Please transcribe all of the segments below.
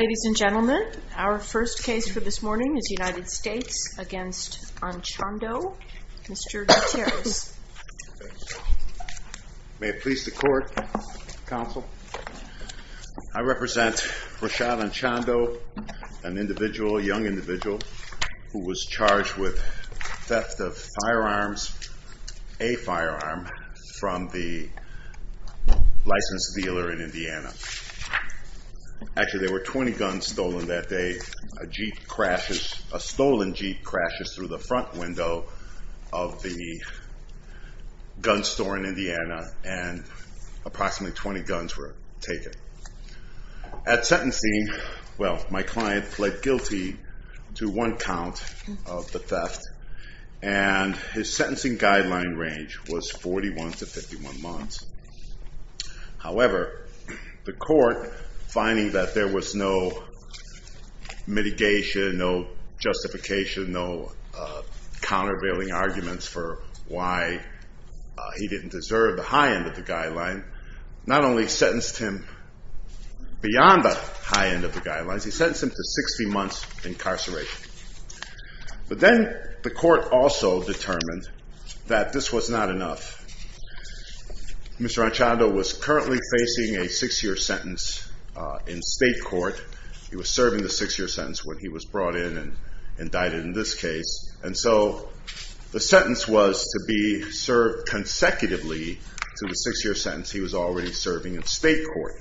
Ladies and gentlemen, our first case for this morning is United States v. Anchando, Mr. Gutierrez. May it please the court, counsel. I represent Rashad Anchando, an individual, a young individual who was charged with theft of firearms, a firearm, from the licensed dealer in Indiana. Actually, there were 20 guns stolen that day. A jeep crashes, a stolen jeep crashes through the front window of the gun store in Indiana, and approximately 20 guns were taken. At sentencing, well, my client pled guilty to one count of the theft, and his the court, finding that there was no mitigation, no justification, no countervailing arguments for why he didn't deserve the high end of the guideline, not only sentenced him beyond the high end of the guidelines, he sentenced him to 60 months incarceration. But then the court also determined that this was not enough. Mr. Anchando was currently facing a six-year sentence in state court. He was serving the six-year sentence when he was brought in and indicted in this case. And so the sentence was to be served consecutively to the six-year sentence he was already serving in state court.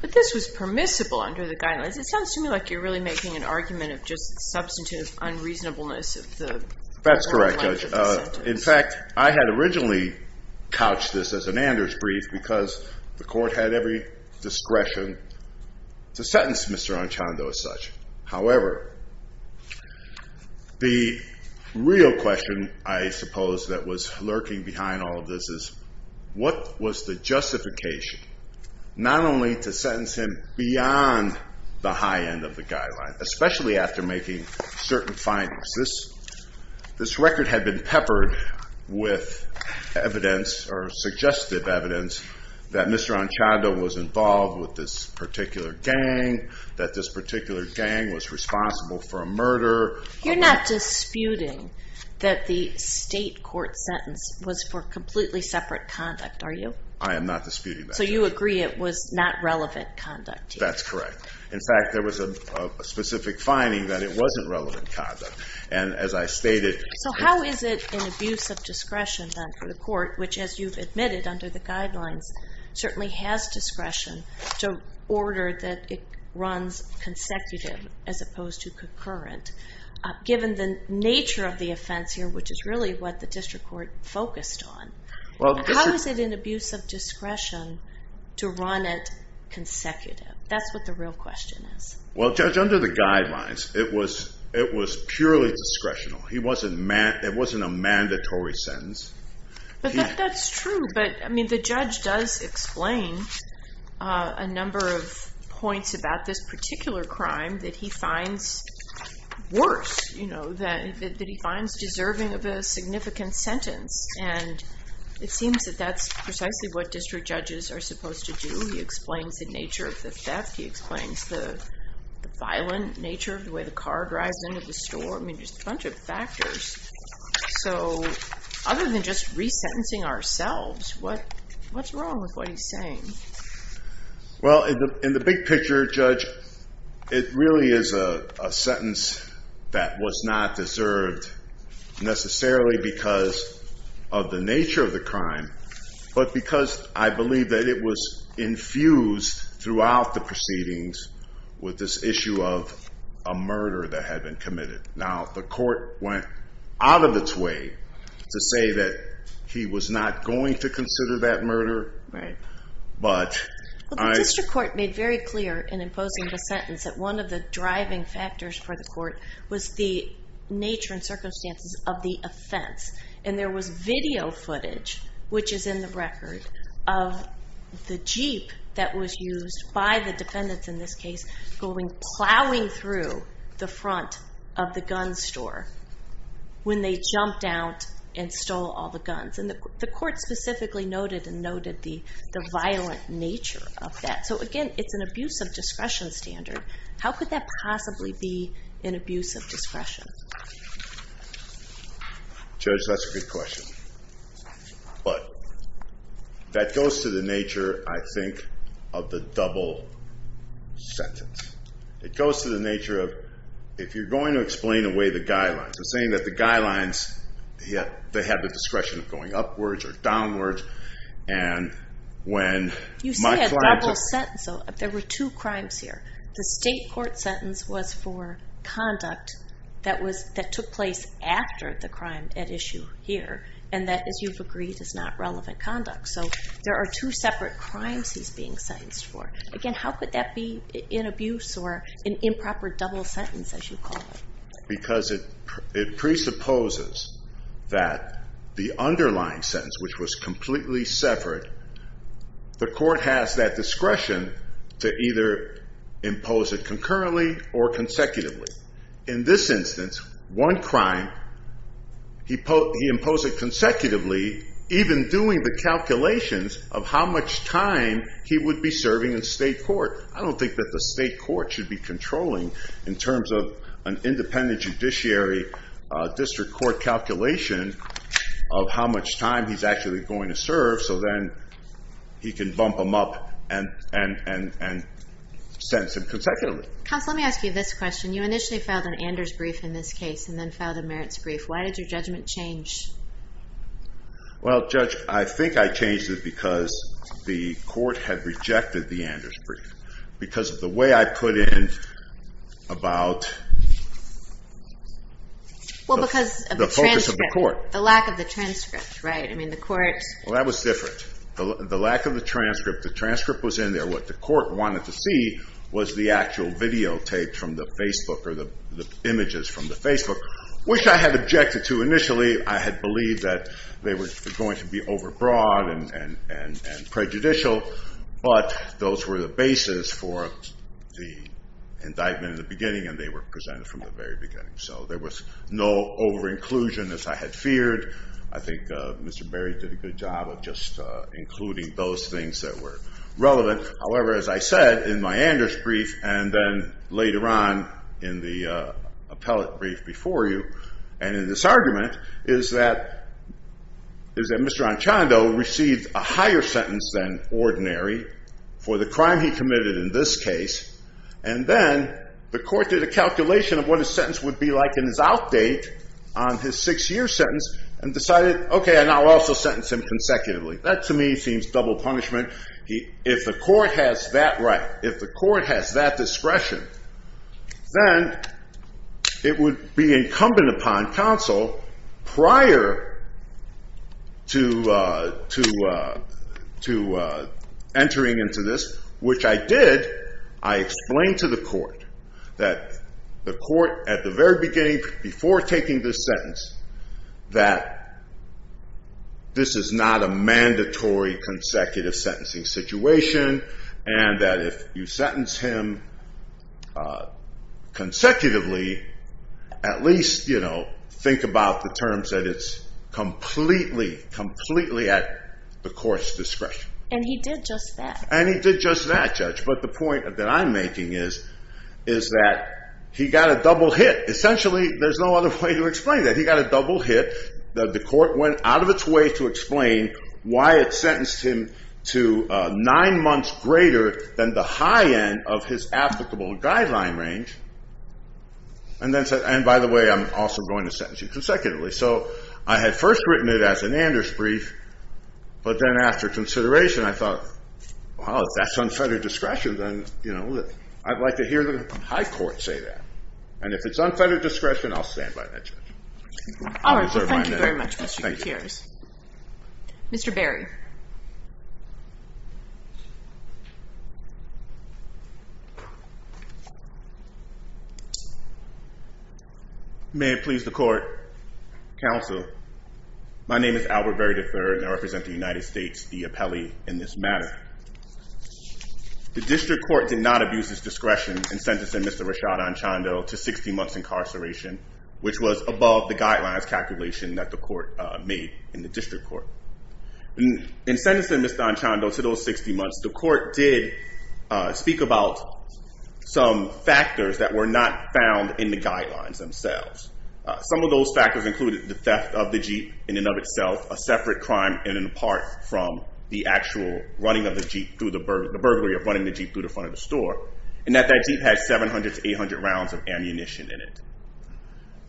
But this was permissible under the guidelines. It sounds to me like you're really making an argument of just substantive unreasonableness of the length of the sentence. That's correct, Judge. In fact, I had originally couched this as an Anders brief because the discretion to sentence Mr. Anchando as such. However, the real question I suppose that was lurking behind all of this is, what was the justification not only to sentence him beyond the high end of the guideline, especially after making certain findings? This record had been peppered with evidence or suggestive evidence that Mr. Anchando was involved with this particular gang, that this particular gang was responsible for a murder. You're not disputing that the state court sentence was for completely separate conduct, are you? I am not disputing that. So you agree it was not relevant conduct? That's correct. In fact, there was a specific finding that it wasn't relevant conduct. And as I stated- So how is it an abuse of discretion then for the court, which as you've admitted under the guidelines, certainly has discretion to order that it runs consecutive as opposed to concurrent, given the nature of the offense here, which is really what the district court focused on. How is it an abuse of discretion to run it consecutive? That's what the real question is. Well, Judge, under the guidelines, it was purely discretional. It wasn't a mandatory sentence. But that's true. But I mean, the judge does explain a number of points about this particular crime that he finds worse, that he finds deserving of a significant sentence. And it seems that that's precisely what district judges are supposed to do. He explains the nature of the violence, the violent nature of the way the car drives into the store. I mean, just a bunch of factors. So other than just resentencing ourselves, what's wrong with what he's saying? Well, in the big picture, Judge, it really is a sentence that was not deserved necessarily because of the nature of the crime, but because I believe that it was infused throughout the case with this issue of a murder that had been committed. Now, the court went out of its way to say that he was not going to consider that murder. But the district court made very clear in imposing the sentence that one of the driving factors for the court was the nature and circumstances of the offense. And there was video footage, which is in the record, of the Jeep that was used by the defendants in this case, going plowing through the front of the gun store when they jumped out and stole all the guns. And the court specifically noted and noted the violent nature of that. So again, it's an abuse of discretion standard. How could that possibly be an abuse of discretion? Judge, that's a good question. But that goes to the nature, I think, of the double sentence. It goes to the nature of, if you're going to explain away the guidelines, I'm saying that the guidelines, they have the discretion of going upwards or downwards. And when my client- You say a double sentence. There were two crimes here. The state court sentence was for conduct that took place after the crime at issue here. And that, as you've agreed, is not relevant conduct. So there are two separate crimes he's being sentenced for. Again, how could that be an abuse or an improper double sentence, as you call it? Because it presupposes that the underlying sentence, which was completely separate, the In this instance, one crime, he imposed it consecutively, even doing the calculations of how much time he would be serving in state court. I don't think that the state court should be controlling, in terms of an independent judiciary district court calculation of how much time he's actually going to serve, so then he can bump them up and sentence him consecutively. Counsel, let me ask you this question. You initially filed an Anders brief in this case and then filed a Merritt's brief. Why did your judgment change? Well, Judge, I think I changed it because the court had rejected the Anders brief. Because of the way I put in about the focus of the court. The lack of the transcript, right? I mean, the court- Well, that was different. The lack of the transcript, the transcript was in there. What the court wanted to see was the actual videotapes from the Facebook or the images from the Facebook, which I had objected to initially. I had believed that they were going to be overbroad and prejudicial, but those were the basis for the indictment in the beginning, and they were presented from the very beginning. So there was no over-inclusion, as I had feared. I think Mr. Berry did a good job of just including those things that were relevant. However, as I said in my Anders brief and then later on in the appellate brief before you and in this argument, is that Mr. Anchondo received a higher sentence than ordinary for the crime he committed in this case, and then the court did a calculation of what his sentence would be like in his outdate on his six-year sentence and decided, okay, and I'll also sentence him consecutively. That, to me, seems double punishment. If the court has that right, if the court has that discretion, then it would be incumbent upon counsel prior to entering into this, which I did. I explained to the court that the court, at the very beginning, before taking this sentence, that this is not a mandatory consecutive sentencing situation, and that if you sentence him consecutively, at least think about the terms that it's completely, completely at the court's discretion. And he did just that. And he did just that, Judge, but the point that I'm making is that he got a double hit. Essentially, there's no other way to explain that. He got a double hit. The court went out of its way to explain why it sentenced him to nine months greater than the high end of his applicable guideline range, and by the way, I'm also going to sentence you consecutively. So I had first written it as an Anders brief, but then after consideration, I thought, wow, if that's unfettered discretion, then I'd like to hear the high court say that. And if it's unfettered discretion, I'll stand by that, Judge. All right. Well, thank you very much, Mr. Gutierrez. Mr. Berry. May it please the court, counsel. My name is Albert Berry III, and I represent the United States, the appellee in this matter. The district court did not abuse its discretion in sentencing Mr. Rashad Anchondo to 60 months incarceration, which was above the guidelines calculation that the court made in the district court. In sentencing Mr. Anchondo to those 60 months, the court did speak about some factors that were not found in the guidelines themselves. Some of those factors included the theft of the Jeep in and of itself, a separate crime in and apart from the actual running of the Jeep through the burglary of running the Jeep through the front of the store, and that that Jeep had 700 to 800 rounds of ammunition in it.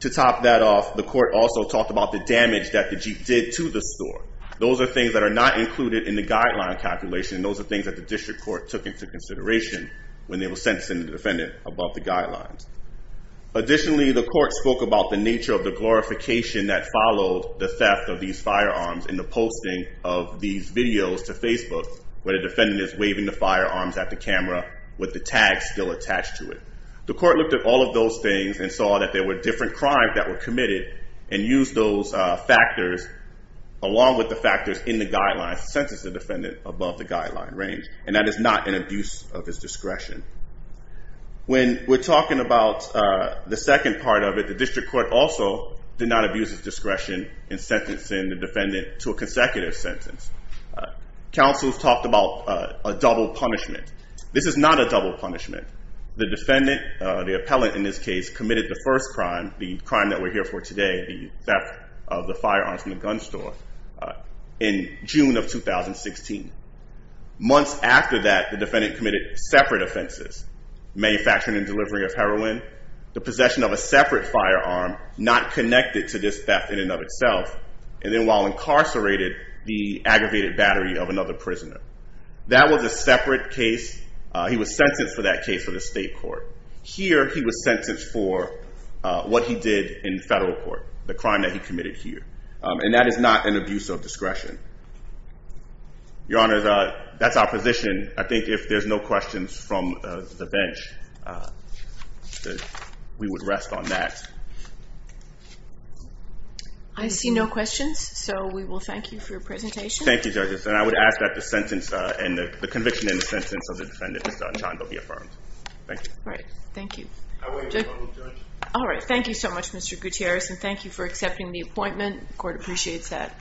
To top that off, the court also talked about the damage that the Jeep did to the store. Those are things that are not included in the guideline calculation. Those are things that the district court took into consideration when they were sentencing the defendant above the guidelines. Additionally, the court spoke about the nature of the glorification that followed the theft of these firearms in the posting of these videos to Facebook, where the defendant is waving the firearms at the camera with the tag still attached to it. The court looked at all of those things and saw that there were different crimes that were committed and used those factors, along with the factors in the guidelines, to sentence the defendant above the guideline range, and that is not an abuse of his discretion. When we're talking about the second part of it, the district court also did not abuse its discretion in sentencing the defendant to a consecutive sentence. Counsel's talked about a double punishment. This is not a double punishment. The defendant, the appellant in this case, committed the first crime, the crime that we're here for today, the theft of the firearms from the gun store, in June of 2016. Months after that, the defendant committed separate offenses, manufacturing and delivery of heroin, the possession of a separate firearm not connected to this theft in and of itself, and then while incarcerated, the aggravated battery of another prisoner. That was a separate case. He was sentenced for that case for the state court. Here, he was sentenced for what he did in federal court, the crime that he committed here, and that is not an abuse of discretion. Your Honor, that's our position. I think if there's no questions from the bench, we would rest on that. I see no questions, so we will thank you for your presentation. Thank you, judges. And I would ask that the conviction in the sentence of the defendant, Mr. Anchondo, be affirmed. Thank you. All right. Thank you. All right. Thank you so much, Mr. Gutierrez, and thank you for accepting the appointment. Court appreciates that.